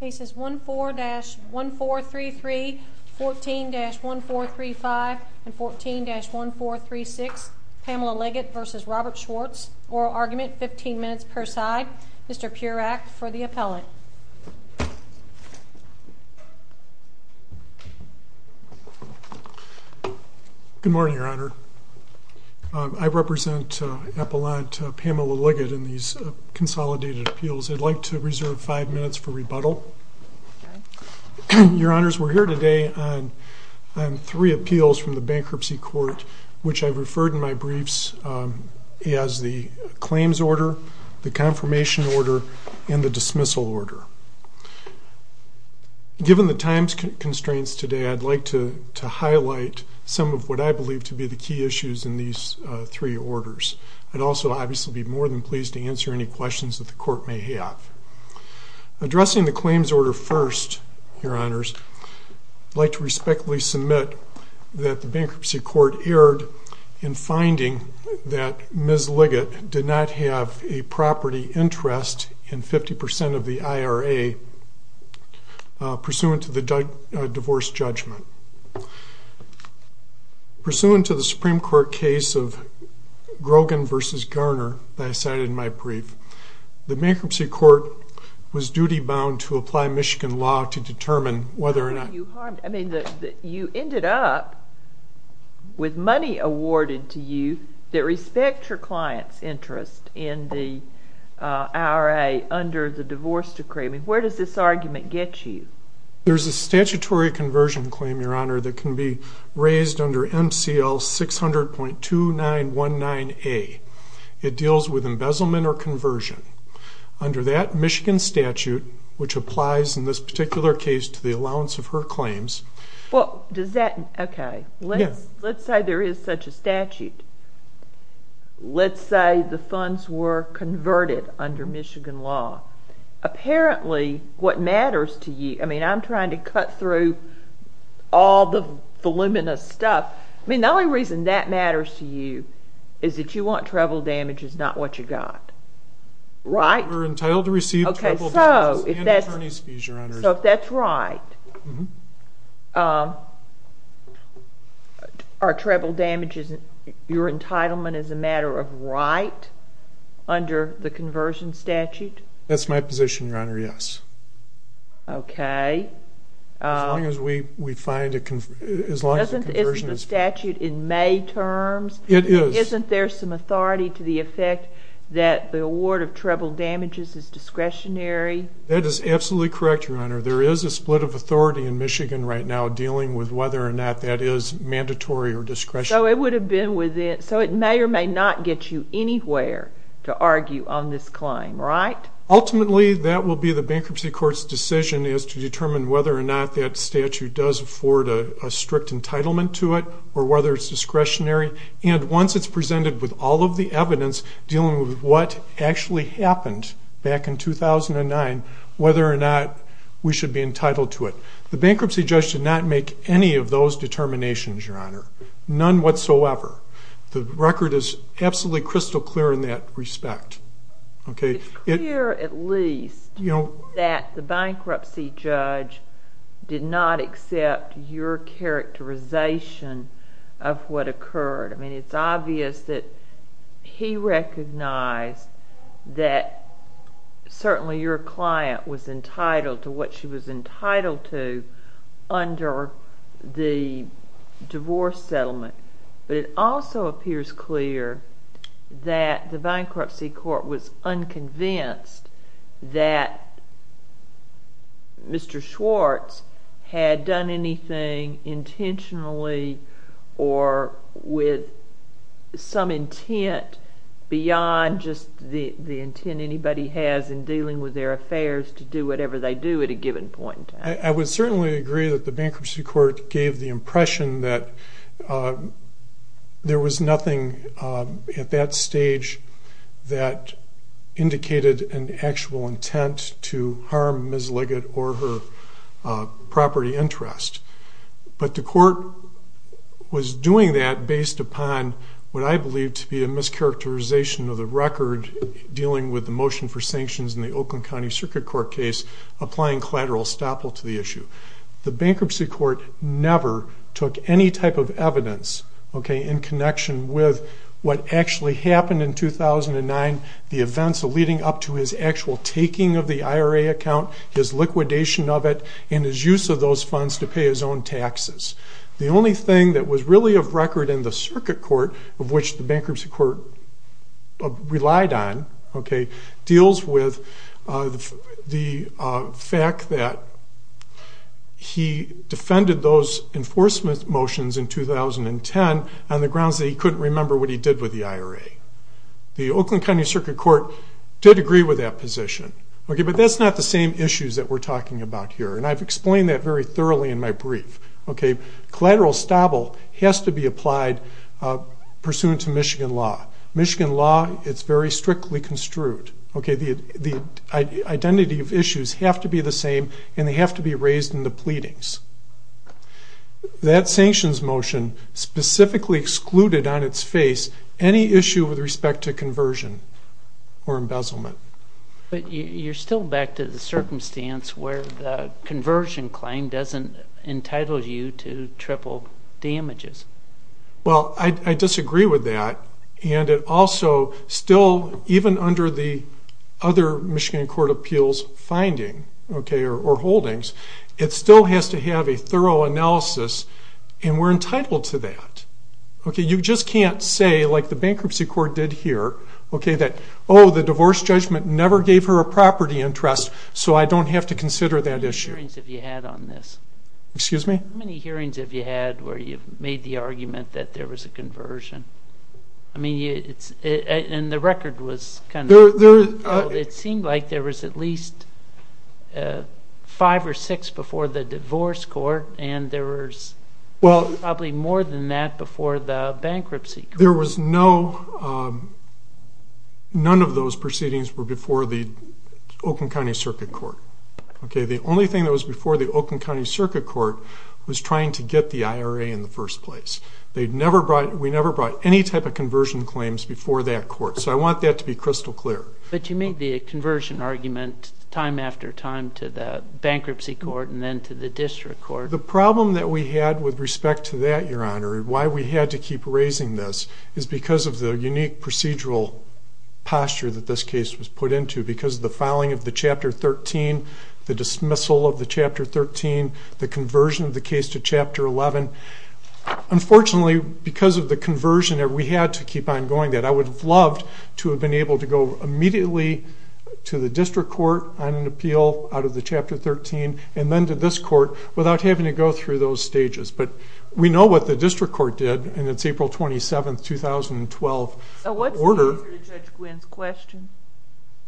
Cases 1-4-1433, 14-1435, and 14-1436, Pamela Liggett v. Robert Schwartz. Oral argument, 15 minutes per side. Mr. Purack for the appellate. Good morning, Your Honor. I represent Appellant Pamela Liggett in these consolidated appeals. I'd like to reserve five minutes for rebuttal. Your Honors, we're here today on three appeals from the bankruptcy court, which I've referred in my briefs as the claims order, the confirmation order, and the dismissal order. Given the time constraints today, I'd like to highlight some of what I believe to be the key issues in these three orders. I'd also obviously be more than pleased to answer any questions that the court may have. Addressing the claims order first, Your Honors, I'd like to respectfully submit that the bankruptcy court erred in finding that Ms. Liggett did not have a property interest in 50% of the IRA pursuant to the divorce judgment. Pursuant to the Supreme Court case of Grogan v. Garner that I cited in my brief, the bankruptcy court was duty-bound to apply Michigan law to determine whether or not you harmed. I mean, you ended up with money awarded to you that respect your client's interest in the IRA under the divorce decree. I mean, where does this argument get you? There's a statutory conversion claim, Your Honor, that can be raised under MCL 600.2919A. It deals with embezzlement or conversion. Under that Michigan statute, which applies in this particular case to the allowance of her claims. Well, does that? OK. Let's say there is such a statute. Let's say the funds were converted under Michigan law. Apparently, what matters to you, I mean, I'm trying to cut through all the voluminous stuff. I mean, the only reason that matters to you is that you want treble damages, not what you got. Right? We're entitled to receive treble damages and attorney's fees, Your Honor. So if that's right, are treble damages your entitlement as a matter of right under the conversion statute? That's my position, Your Honor, yes. OK. As long as we find a conversion. As long as the conversion is fair. Isn't the statute in May terms? It is. Isn't there some authority to the effect that the award of treble damages is discretionary? That is absolutely correct, Your Honor. There is a split of authority in Michigan right now dealing with whether or not that is mandatory or discretionary. So it would have been within, so it may or may not get you anywhere to argue on this claim, right? Ultimately, that will be the bankruptcy court's decision is to determine whether or not that statute does afford a strict entitlement to it or whether it's discretionary. And once it's presented with all of the evidence dealing with what actually happened back in 2009, whether or not we should be entitled to it. The bankruptcy judge did not make any of those determinations, Your Honor. None whatsoever. The record is absolutely crystal clear in that respect. It's clear, at least, that the bankruptcy judge did not accept your characterization of what occurred. I mean, it's obvious that he recognized that certainly your client was entitled to what she was entitled to under the divorce settlement. But it also appears clear that the bankruptcy court was unconvinced that Mr. Schwartz had done anything intentionally or with some intent beyond just the intent anybody has in dealing with their affairs to do whatever they do at a given point in time. I would certainly agree that the bankruptcy court gave the impression that there was nothing at that stage that indicated an actual intent to harm Ms. Liggett or her property interest. But the court was doing that based upon what I believe to be a mischaracterization of the record dealing with the motion for sanctions in the Oakland County Circuit Court case applying collateral estoppel to the issue. The bankruptcy court never took any type of evidence, okay, in connection with what actually happened in 2009, the events leading up to his actual taking of the IRA account, his liquidation of it, and his use of those funds to pay his own taxes. The only thing that was really of record in the circuit court of which the bankruptcy court relied on, okay, deals with the fact that he defended those enforcement motions in 2010 on the grounds that he couldn't remember what he did with the IRA. The Oakland County Circuit Court did agree with that position, okay, but that's not the same issues that we're talking about here. And I've explained that very thoroughly in my brief, okay. Collateral estoppel has to be applied pursuant to Michigan law. Michigan law, it's very strictly construed, okay. The identity of issues have to be the same and they have to be raised in the pleadings. That sanctions motion specifically excluded on its face any issue with respect to conversion or embezzlement. But you're still back to the circumstance where the conversion claim doesn't entitle you to triple damages. Well, I disagree with that. And it also still, even under the other Michigan court appeals finding, okay, or holdings, it still has to have a thorough analysis and we're entitled to that. Okay, you just can't say like the bankruptcy court did here, okay, that, oh, the divorce judgment never gave her a property interest. So I don't have to consider that issue. How many hearings have you had on this? Excuse me? How many hearings have you had where you've made the argument that there was a conversion? I mean, and the record was kind of... It seemed like there was at least five or six before the divorce court. And there was probably more than that before the bankruptcy. There was no, none of those proceedings were before the Oakland County Circuit Court. Okay, the only thing that was before the Oakland County Circuit Court was trying to get the IRA in the first place. They'd never brought, we never brought any type of conversion claims before that court. So I want that to be crystal clear. But you made the conversion argument time after time to the bankruptcy court and then to the district court. The problem that we had with respect to that, Your Honor, why we had to keep raising this is because of the unique procedural posture that this case was put into because of the filing of the chapter 13, the dismissal of the chapter 13, the conversion of the case to chapter 11. Unfortunately, because of the conversion that we had to keep on going that I would have loved to have been able to go immediately to the district court on an appeal out of the chapter 13 and then to this court without having to go through those stages. But we know what the district court did and it's April 27th, 2012 order. So what's the answer to Judge Gwinn's question?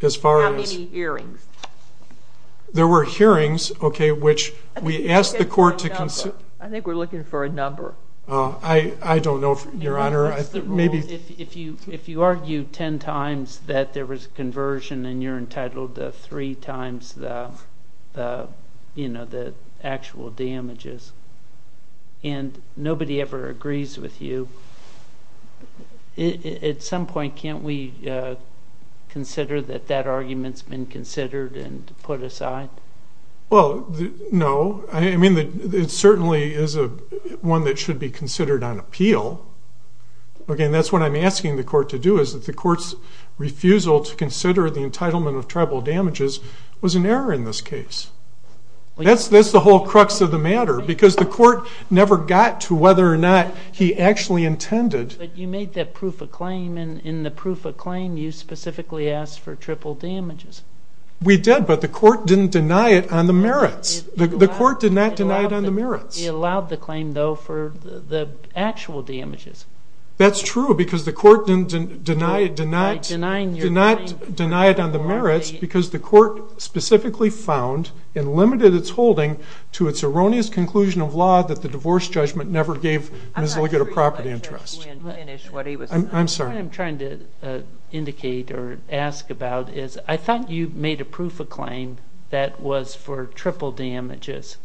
As far as- How many hearings? There were hearings, okay, which we asked the court to consider. I think we're looking for a number. I don't know, Your Honor. What's the rule if you argue 10 times that there was a conversion and you're entitled to three times the actual damages and nobody ever agrees with you, at some point, can't we consider that that argument's been considered and put aside? Well, no. I mean, it certainly is one that should be considered on appeal. Okay, and that's what I'm asking the court to do is that the court's refusal to consider the entitlement of tribal damages was an error in this case. That's the whole crux of the matter because the court never got to whether or not he actually intended. But you made that proof of claim and in the proof of claim, you specifically asked for triple damages. We did, but the court didn't deny it on the merits. The court did not deny it on the merits. It allowed the claim though for the actual damages. That's true because the court did not deny it on the merits because the court specifically found and limited its holding to its erroneous conclusion of law that the divorce judgment never gave Ms. Liggett a property interest. I'm sorry. What I'm trying to indicate or ask about is I thought you made a proof of claim that was for triple damages.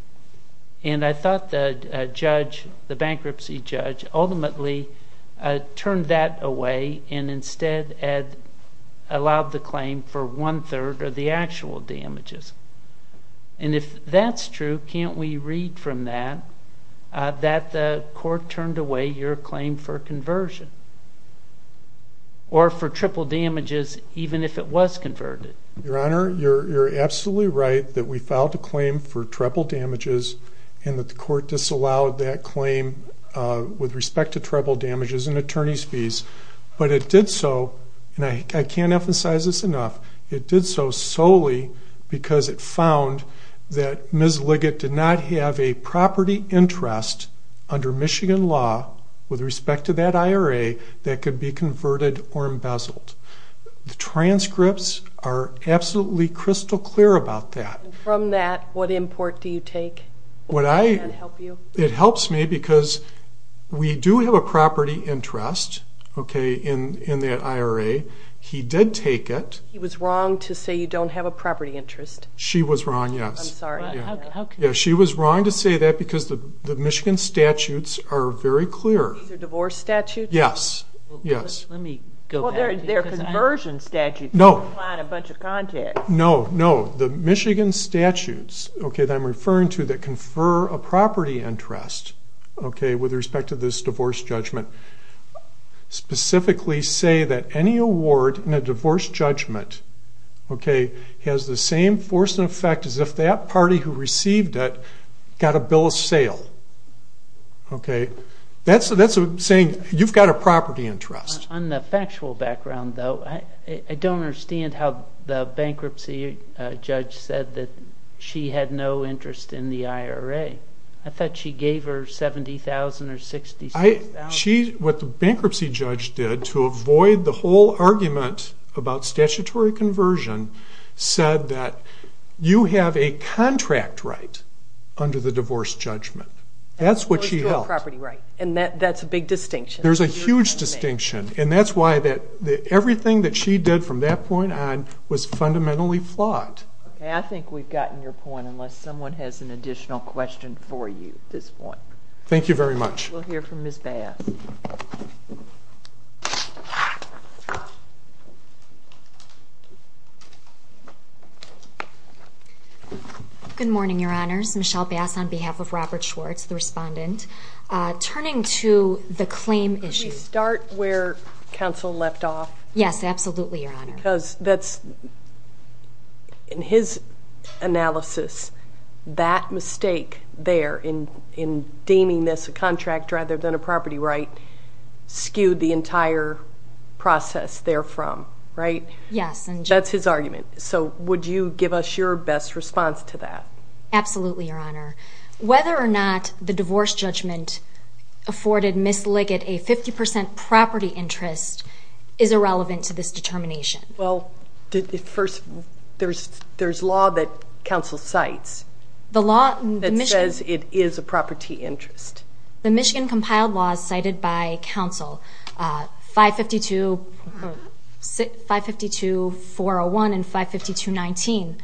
And I thought the judge, the bankruptcy judge, ultimately turned that away and instead allowed the claim for one third of the actual damages. And if that's true, can't we read from that that the court turned away your claim for conversion or for triple damages, even if it was converted? Your Honor, you're absolutely right that we filed a claim for triple damages and that the court disallowed that claim with respect to triple damages and attorney's fees. But it did so, and I can't emphasize this enough, it did so solely because it found that Ms. Liggett did not have a property interest under Michigan law with respect to that IRA that could be converted or embezzled. The transcripts are absolutely crystal clear about that. And from that, what import do you take? Would that help you? It helps me because we do have a property interest in that IRA. He did take it. He was wrong to say you don't have a property interest. She was wrong, yes. I'm sorry. Yeah, she was wrong to say that because the Michigan statutes are very clear. These are divorce statutes? Yes, yes. Let me go back. They're conversion statutes. No. You can't find a bunch of contacts. No, no. The Michigan statutes that I'm referring to that confer a property interest with respect to this divorce judgment specifically say that any award in a divorce judgment has the same force and effect as if that party who received it got a bill of sale. That's saying you've got a property interest. On the factual background though, I don't understand how the bankruptcy judge said that she had no interest in the IRA. I thought she gave her 70,000 or 66,000. What the bankruptcy judge did to avoid the whole argument about statutory conversion said that you have a contract right under the divorce judgment. That's what she held. You have a property right, and that's a big distinction. There's a huge distinction, and that's why everything that she did from that point on was fundamentally flawed. Okay, I think we've gotten your point unless someone has an additional question for you at this point. Thank you very much. We'll hear from Ms. Bass. Good morning, Your Honors. Michelle Bass on behalf of Robert Schwartz, the respondent. Turning to the claim issue. Could we start where counsel left off? Yes, absolutely, Your Honor. Because that's, in his analysis, that mistake there in deeming this a contract rather than a property right skewed the entire process therefrom, right? Yes. That's his argument. So would you give us your best response to that? Absolutely, Your Honor. Whether or not the divorce judgment afforded Ms. Liggett a 50% property interest is irrelevant to this determination. Well, first, there's law that counsel cites. The law in Michigan. That says it is a property interest. The Michigan compiled laws cited by counsel, 552-401 and 552-19,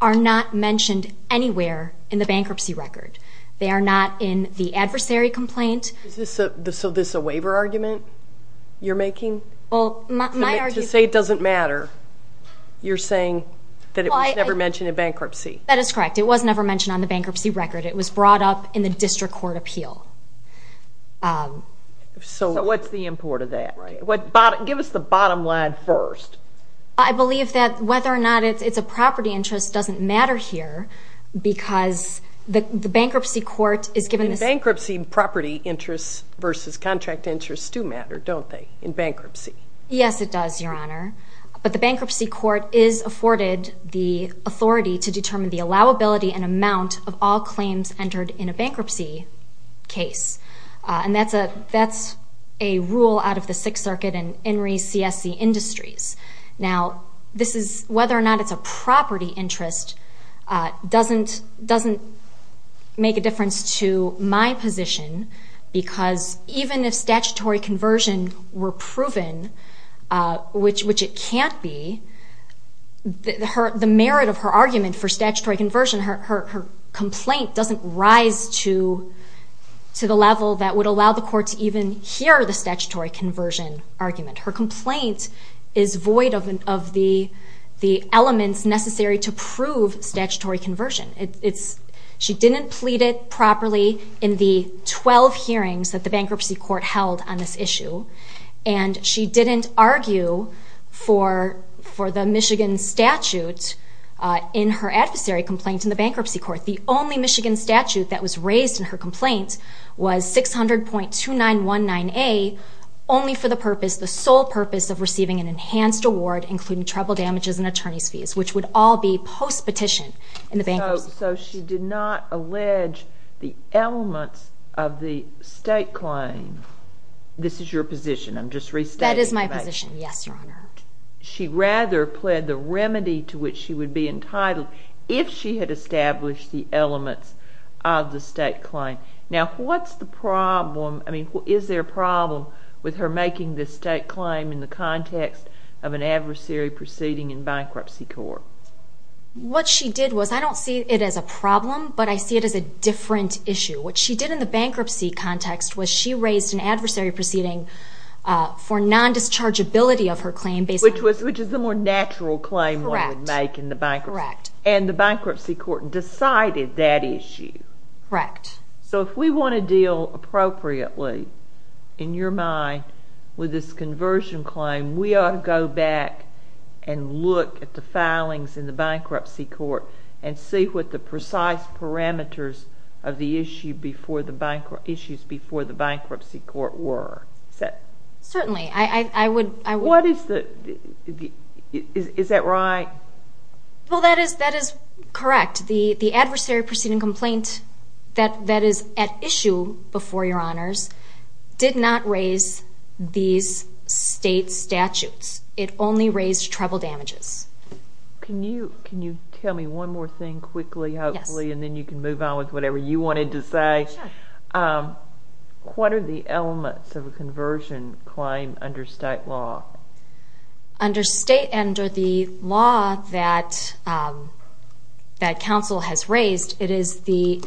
are not mentioned anywhere in the bankruptcy record. They are not in the adversary complaint. So this a waiver argument you're making? Well, my argument... To say it doesn't matter, you're saying that it was never mentioned in bankruptcy. That is correct. It was never mentioned on the bankruptcy record. It was brought up in the district court appeal. So what's the import of that? Give us the bottom line first. I believe that whether or not it's a property interest doesn't matter here because the bankruptcy court is given this... In bankruptcy, property interests versus contract interests do matter, don't they, in bankruptcy? Yes, it does, Your Honor. But the bankruptcy court is afforded the authority to determine the allowability and amount of all claims entered in a bankruptcy case. And that's a rule out of the Sixth Circuit and INRI's CSC Industries. Now, whether or not it's a property interest doesn't make a difference to my position because even if statutory conversion were proven, which it can't be, the merit of her argument for statutory conversion, her complaint doesn't rise to the level that would allow the court to even hear the statutory conversion argument. Her complaint is void of the elements necessary to prove statutory conversion. She didn't plead it properly in the 12 hearings that the bankruptcy court held on this issue. And she didn't argue for the Michigan statute in her adversary complaint in the bankruptcy court. The only Michigan statute that was raised in her complaint was 600.2919A, only for the purpose, the sole purpose of receiving an enhanced award, including treble damages and attorney's fees, which would all be post-petition in the bankruptcy. So she did not allege the elements of the state claim. This is your position. I'm just restating. That is my position, yes, Your Honor. She rather pled the remedy to which she would be entitled if she had established the elements of the state claim. Now, what's the problem, I mean, is there a problem with her making this state claim in the context of an adversary proceeding in bankruptcy court? What she did was, I don't see it as a problem, but I see it as a different issue. What she did in the bankruptcy context was she raised an adversary proceeding for non-dischargeability of her claim, based on- Which is the more natural claim one would make in the bankruptcy. And the bankruptcy court decided that issue. Correct. So if we want to deal appropriately, in your mind, with this conversion claim, we ought to go back and look at the filings in the bankruptcy court and see what the precise parameters of the issue before the bankruptcy, issues before the bankruptcy court were, is that- Certainly, I would- Is that right? Well, that is correct. The adversary proceeding complaint that is at issue before your honors did not raise these state statutes. It only raised trouble damages. Can you tell me one more thing quickly, hopefully, and then you can move on with whatever you wanted to say. Sure. What are the elements of a conversion claim under state law? Under state, under the law that council has raised, it is the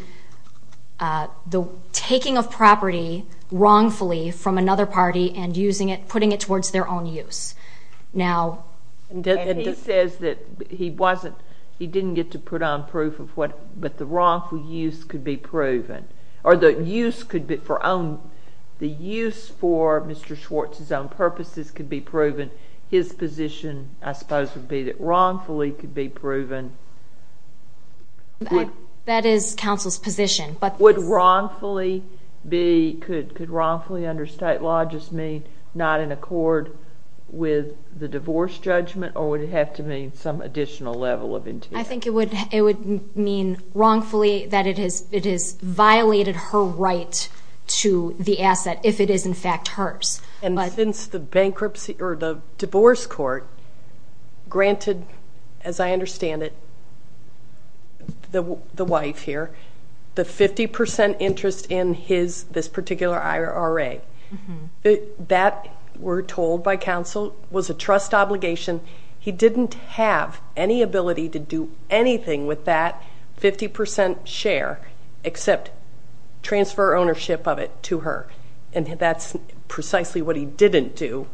taking of property wrongfully from another party and using it, putting it towards their own use. Now- And he says that he wasn't, he didn't get to put on proof of what, but the wrongful use could be proven, or the use could be for own, the use for Mr. Schwartz's own purposes could be proven. His position, I suppose, would be that wrongfully could be proven. That is council's position, but- Would wrongfully be, could wrongfully under state law just mean not in accord with the divorce judgment, or would it have to mean some additional level of integrity? I think it would mean wrongfully that it has violated her right to the asset, if it is, in fact, hers. And since the bankruptcy or the divorce court granted, as I understand it, the wife here, the 50% interest in his, this particular IRA, that, we're told by council, was a trust obligation. He didn't have any ability to do anything with that. 50% share, except transfer ownership of it to her. And that's precisely what he didn't do.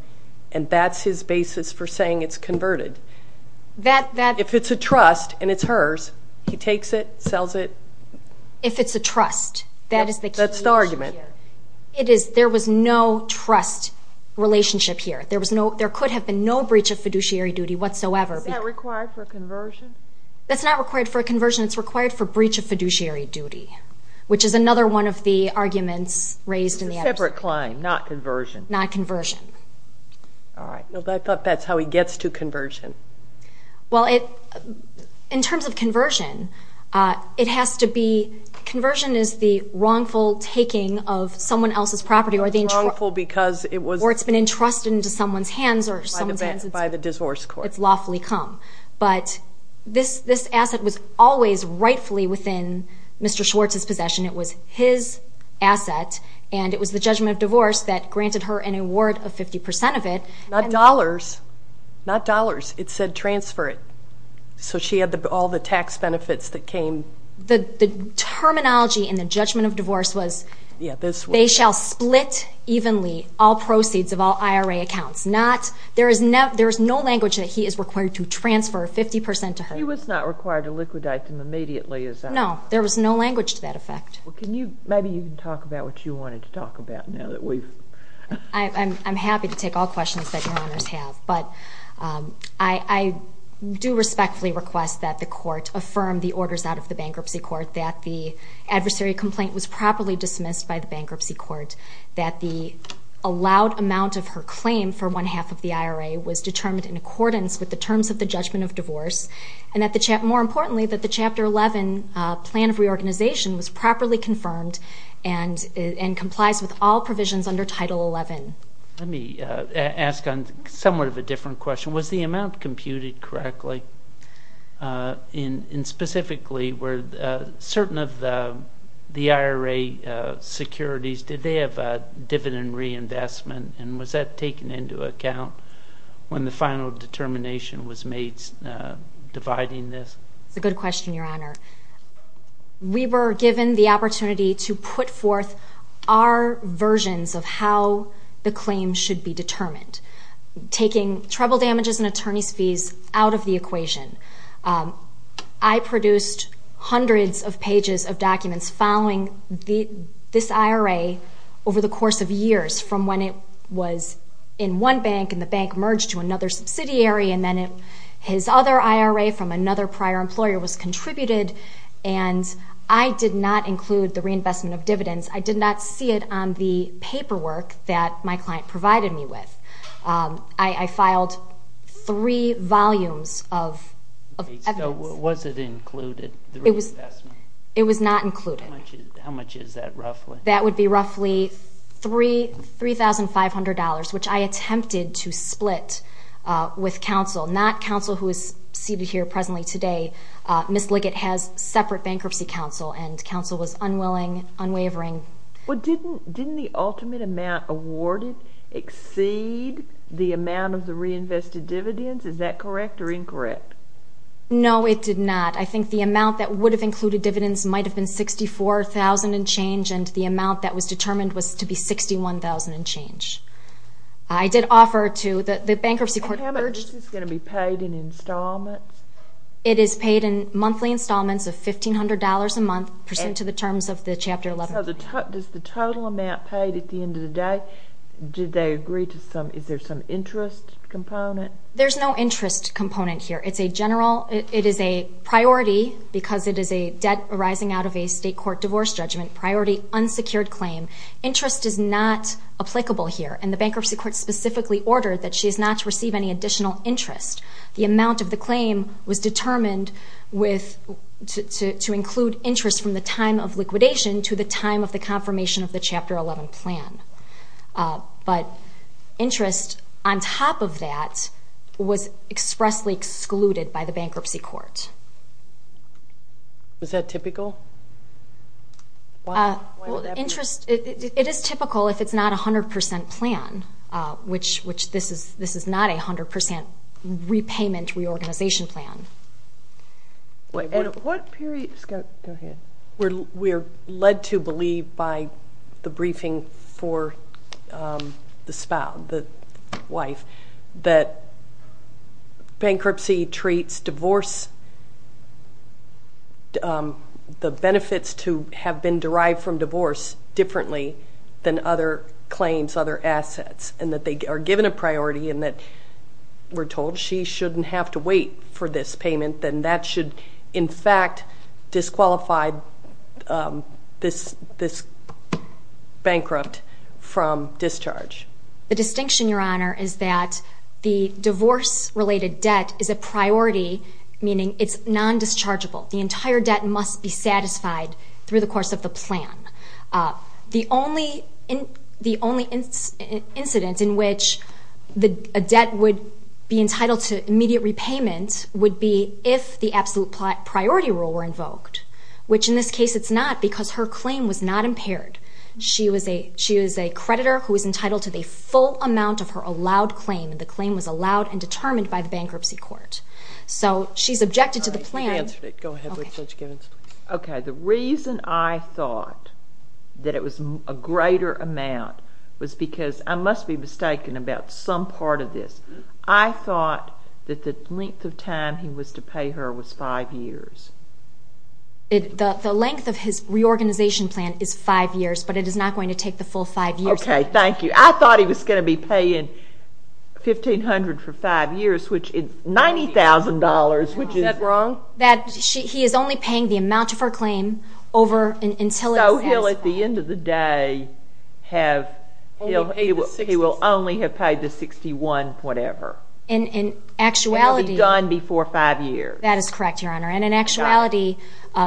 And that's his basis for saying it's converted. That, that- If it's a trust and it's hers, he takes it, sells it. If it's a trust, that is the key issue here. That's the argument. It is, there was no trust relationship here. There was no, there could have been no breach of fiduciary duty whatsoever. Is that required for a conversion? That's not required for a conversion. It's required for breach of fiduciary duty, which is another one of the arguments raised in the- It's a separate claim, not conversion. Not conversion. All right. I thought that's how he gets to conversion. Well, in terms of conversion, it has to be, conversion is the wrongful taking of someone else's property or the- Wrongful because it was- Or it's been entrusted into someone's hands or someone's hands- By the divorce court. It's lawfully come. But this asset was always rightfully within Mr. Schwartz's possession. It was his asset and it was the judgment of divorce that granted her an award of 50% of it. Not dollars, not dollars. It said transfer it. So she had all the tax benefits that came. The terminology in the judgment of divorce was- Yeah, this was- They shall split evenly all proceeds of all IRA accounts. Not, there is no language that he is required to transfer 50% to her. She was not required to liquidate them immediately as I- No, there was no language to that effect. Well, can you, maybe you can talk about what you wanted to talk about now that we've- I'm happy to take all questions that your honors have, but I do respectfully request that the court affirm the orders out of the bankruptcy court that the adversary complaint was properly dismissed by the bankruptcy court, that the allowed amount of her claim for one half of the IRA was determined in accordance with the terms of the judgment of divorce, and that the, more importantly, that the chapter 11 plan of reorganization was properly confirmed and complies with all provisions under title 11. Let me ask on somewhat of a different question. Was the amount computed correctly? In specifically, were certain of the IRA securities, did they have a dividend reinvestment? And was that taken into account when the final determination was made dividing this? It's a good question, your honor. We were given the opportunity to put forth our versions of how the claim should be determined, taking treble damages and attorney's fees out of the equation. I produced hundreds of pages of documents following this IRA over the course of years from when it was in one bank and the bank merged to another subsidiary, and then his other IRA from another prior employer was contributed, and I did not include the reinvestment of dividends. I did not see it on the paperwork that my client provided me with. I filed three volumes of evidence. Was it included, the reinvestment? It was not included. How much is that roughly? That would be roughly $3,500, which I attempted to split with counsel, not counsel who is seated here presently today. Ms. Liggett has separate bankruptcy counsel, and counsel was unwilling, unwavering. But didn't the ultimate amount awarded exceed the amount of the reinvested dividends? Is that correct or incorrect? No, it did not. I think the amount that would have included dividends might have been 64,000 and change, and the amount that was determined was to be 61,000 and change. I did offer to, the bankruptcy court urged... How much is this going to be paid in installments? It is paid in monthly installments of $1,500 a month pursuant to the terms of the Chapter 11. Does the total amount paid at the end of the day, did they agree to some, is there some interest component? There's no interest component here. It's a general, it is a priority because it is a debt arising out of a state court divorce judgment, priority unsecured claim. Interest is not applicable here, and the bankruptcy court specifically ordered that she is not to receive any additional interest. The amount of the claim was determined to include interest from the time of liquidation to the time of the confirmation of the Chapter 11 plan. But interest on top of that was expressly excluded by the bankruptcy court. Is that typical? Interest, it is typical if it's not a 100% plan, which this is not a 100% repayment reorganization plan. Wait, what period, go ahead. We're led to believe by the briefing for the spouse, the wife, that bankruptcy treats divorce, the benefits to have been derived from divorce differently than other claims, other assets, and that they are given a priority and that we're told she shouldn't have to wait for this payment, then that should, in fact, disqualify this bankrupt from discharge. The distinction, Your Honor, is that the divorce-related debt is a priority, meaning it's non-dischargeable. The entire debt must be satisfied through the course of the plan. The only incident in which a debt would be entitled to immediate repayment would be if the absolute priority rule were invoked, which in this case it's not because her claim was not impaired. She was a creditor who was entitled to the full amount of her allowed claim, and the claim was allowed and determined by the bankruptcy court. So she's objected to the plan. All right, you answered it. Go ahead, Judge Givens, please. Okay, the reason I thought that it was a greater amount was because, I must be mistaken about some part of this, I thought that the length of time he was to pay her was five years. The length of his reorganization plan is five years, but it is not going to take the full five years. Okay, thank you. I thought he was gonna be paying 1,500 for five years, which is $90,000, which is- Is that wrong? That he is only paying the amount of her claim over until it's- So he'll, at the end of the day, have, he will only have paid the 61 whatever. In actuality- And it'll be done before five years. That is correct, Your Honor. And in actuality,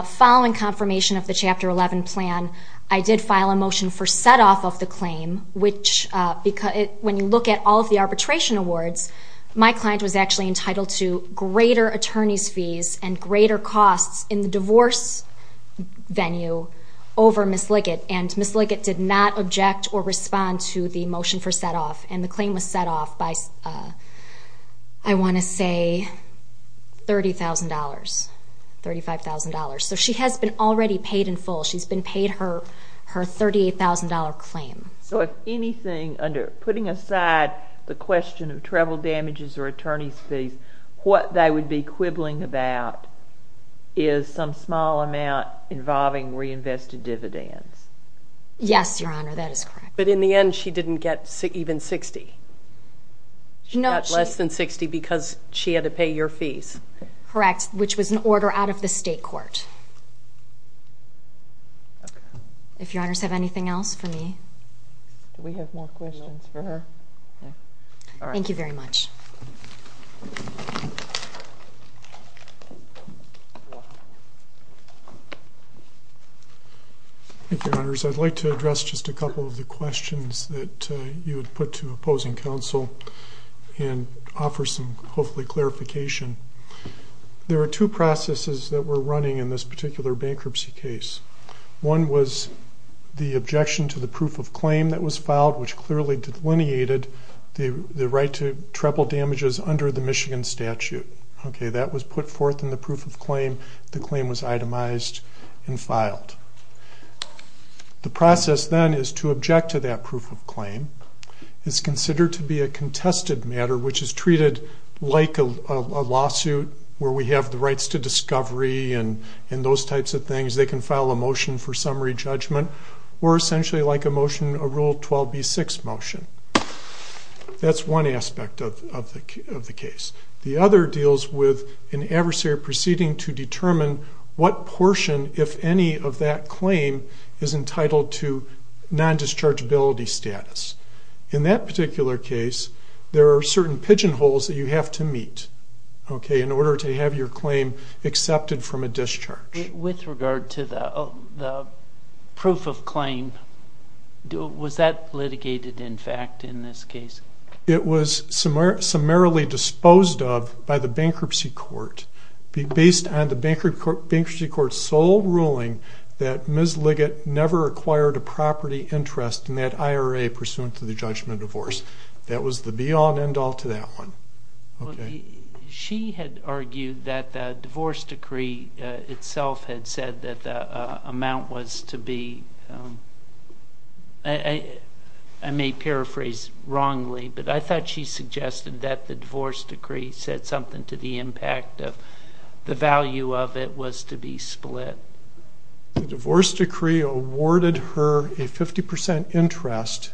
following confirmation of the Chapter 11 plan, I did file a motion for set off of the claim, which, when you look at all of the arbitration awards, my client was actually entitled to greater attorney's fees and greater costs in the divorce venue over Ms. Liggett. And Ms. Liggett did not object or respond to the motion for set off. And the claim was set off by, I wanna say, $30,000, $35,000. So she has been already paid in full. She's been paid her $38,000 claim. So if anything, under putting aside the question of travel damages or attorney's fees, what they would be quibbling about is some small amount involving reinvested dividends. Yes, Your Honor, that is correct. But in the end, she didn't get even 60. No, she- She got less than 60 because she had to pay your fees. Correct, which was an order out of the state court. If Your Honors have anything else for me. Do we have more questions for her? All right. Thank you very much. Thank you, Your Honors. I'd like to address just a couple of the questions that you had put to opposing counsel and offer some, hopefully, clarification. There are two processes that were running in this particular bankruptcy case. One was the objection to the proof of claim that was filed, which clearly delineated the right to travel damages under the Michigan statute. Okay, that was put forth in the proof of claim. The claim was itemized and filed. The process then is to object to that proof of claim. It's considered to be a contested matter, which is treated like a lawsuit where we have the rights to discovery and those types of things. They can file a motion for summary judgment or essentially like a motion, a Rule 12b-6 motion. That's one aspect of the case. The other deals with an adversary proceeding to determine what portion, if any, of that claim is entitled to non-dischargeability status. In that particular case, there are certain pigeonholes that you have to meet, okay, in order to have your claim accepted from a discharge. With regard to the proof of claim, was that litigated, in fact, in this case? It was summarily disposed of by the bankruptcy court based on the bankruptcy court's sole ruling that Ms. Liggett never acquired a property interest in that IRA pursuant to the judgment of divorce. That was the be-all and end-all to that one. Okay. She had argued that the divorce decree itself had said that the amount was to be, I may paraphrase wrongly, but I thought she suggested that the divorce decree said something to the impact of the value of it was to be split. The divorce decree awarded her a 50% interest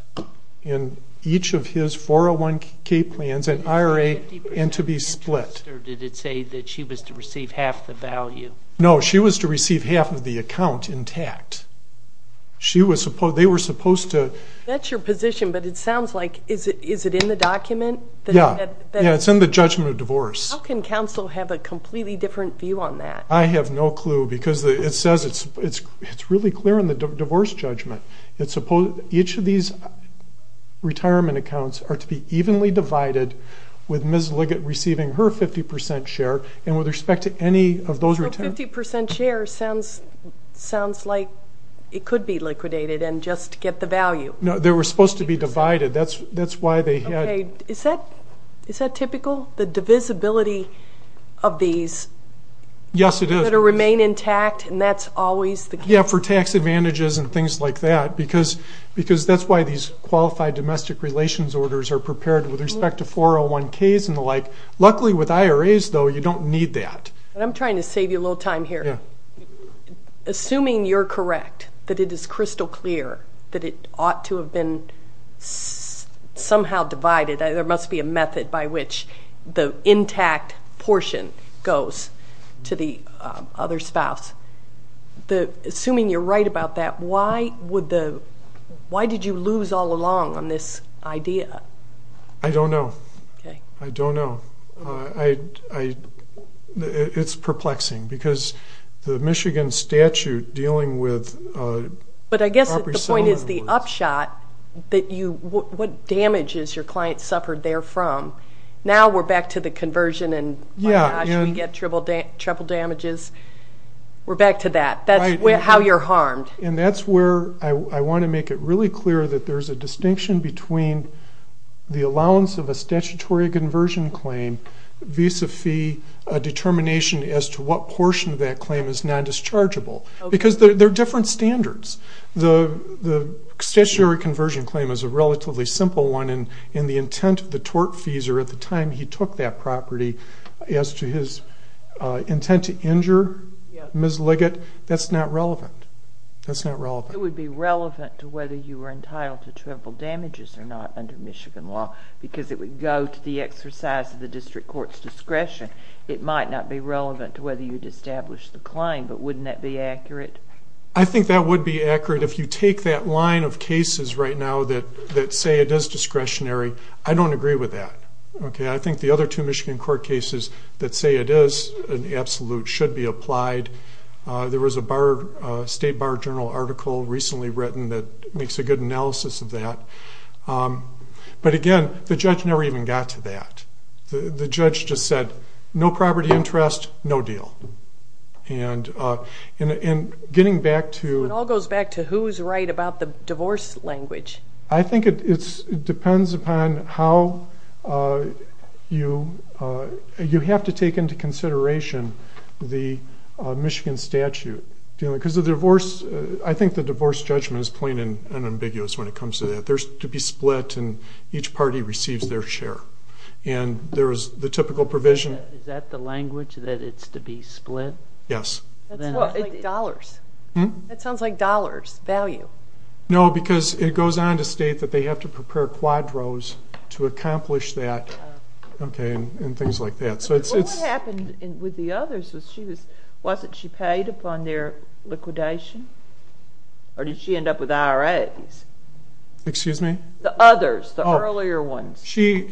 in each of his 401k plans and IRA and to be split. Or did it say that she was to receive half the value? No, she was to receive half of the account intact. She was supposed, they were supposed to- That's your position, but it sounds like, is it in the document? Yeah. Yeah, it's in the judgment of divorce. How can counsel have a completely different view on that? I have no clue because it says, it's really clear in the divorce judgment. Each of these retirement accounts are to be evenly divided with Ms. Liggett receiving her 50% share. And with respect to any of those- So 50% share sounds like it could be liquidated and just get the value. No, they were supposed to be divided. That's why they had- Okay, is that typical? The divisibility of these- Yes, it is. That'll remain intact and that's always the case? Yeah, for tax advantages and things like that. Because that's why these qualified domestic relations orders are prepared with respect to 401ks and the like. Luckily with IRAs though, you don't need that. I'm trying to save you a little time here. Assuming you're correct, that it is crystal clear that it ought to have been somehow divided. There must be a method by which the intact portion goes to the other spouse. Assuming you're right about that, why did you lose all along on this idea? I don't know. I don't know. It's perplexing because the Michigan statute dealing with- But I guess the point is the upshot that you, what damage has your client suffered there from? Now we're back to the conversion and my gosh, we get triple damages. We're back to that. That's how you're harmed. And that's where I want to make it really clear that there's a distinction between the allowance of a statutory conversion claim, visa fee, a determination as to what portion of that claim is non-dischargeable. Because they're different standards. The statutory conversion claim is a relatively simple one and the intent of the tort fees are at the time he took that property as to his intent to injure Ms. Liggett, that's not relevant. It would be relevant to whether you were entitled to triple damages or not under Michigan law because it would go to the exercise of the district court's discretion. It might not be relevant to whether you'd establish the claim, but wouldn't that be accurate? I think that would be accurate if you take that line of cases right now that say it is discretionary. I don't agree with that. Okay, I think the other two Michigan court cases that say it is an absolute should be applied. There was a state bar journal article recently written that makes a good analysis of that. But again, the judge never even got to that. The judge just said, no property interest, no deal. And getting back to- It all goes back to who's right about the divorce language. I think it depends upon how you have to take into consideration the Michigan statute. Because the divorce, I think the divorce judgment is plain and ambiguous when it comes to that. There's to be split and each party receives their share. And there's the typical provision- Is that the language, that it's to be split? Yes. That sounds like dollars. That sounds like dollars, value. No, because it goes on to state that they have to prepare quadros to accomplish that. Okay, and things like that. What happened with the others was she was, wasn't she paid upon their liquidation? Or did she end up with IRAs? Excuse me? The others, the earlier ones. They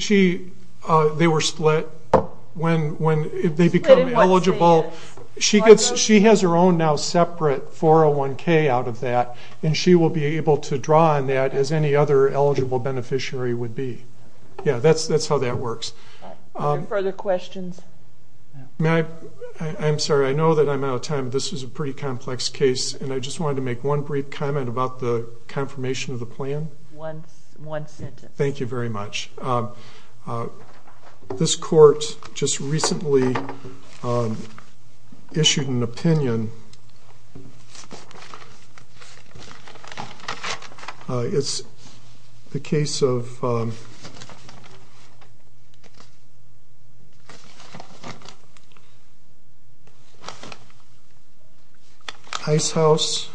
were split when they become eligible. She has her own now separate 401k out of that. And she will be able to draw on that as any other eligible beneficiary would be. Yeah, that's how that works. Are there further questions? May I, I'm sorry, I know that I'm out of time, but this was a pretty complex case. And I just wanted to make one brief comment about the confirmation of the plan. One sentence. Thank you very much. This court just recently issued an opinion. It's the case of, let's see. Ice House.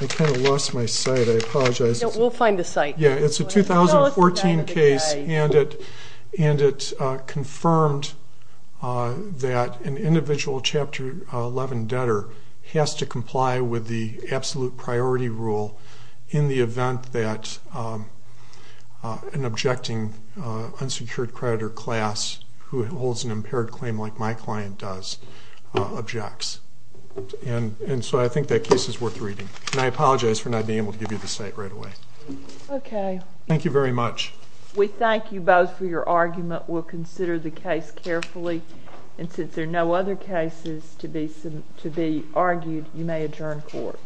I kind of lost my sight. I apologize. We'll find the site. Yeah, it's a 2014 case and it, and it confirmed that an individual chapter 11 debtor has to comply with the absolute priority rule in the event that an objecting unsecured creditor class who holds an impaired claim like my client does objects. And so I think that case is worth reading. And I apologize for not being able to give you the site right away. Okay. Thank you very much. We thank you both for your argument. We'll consider the case carefully. And since there are no other cases to be argued, you may adjourn court.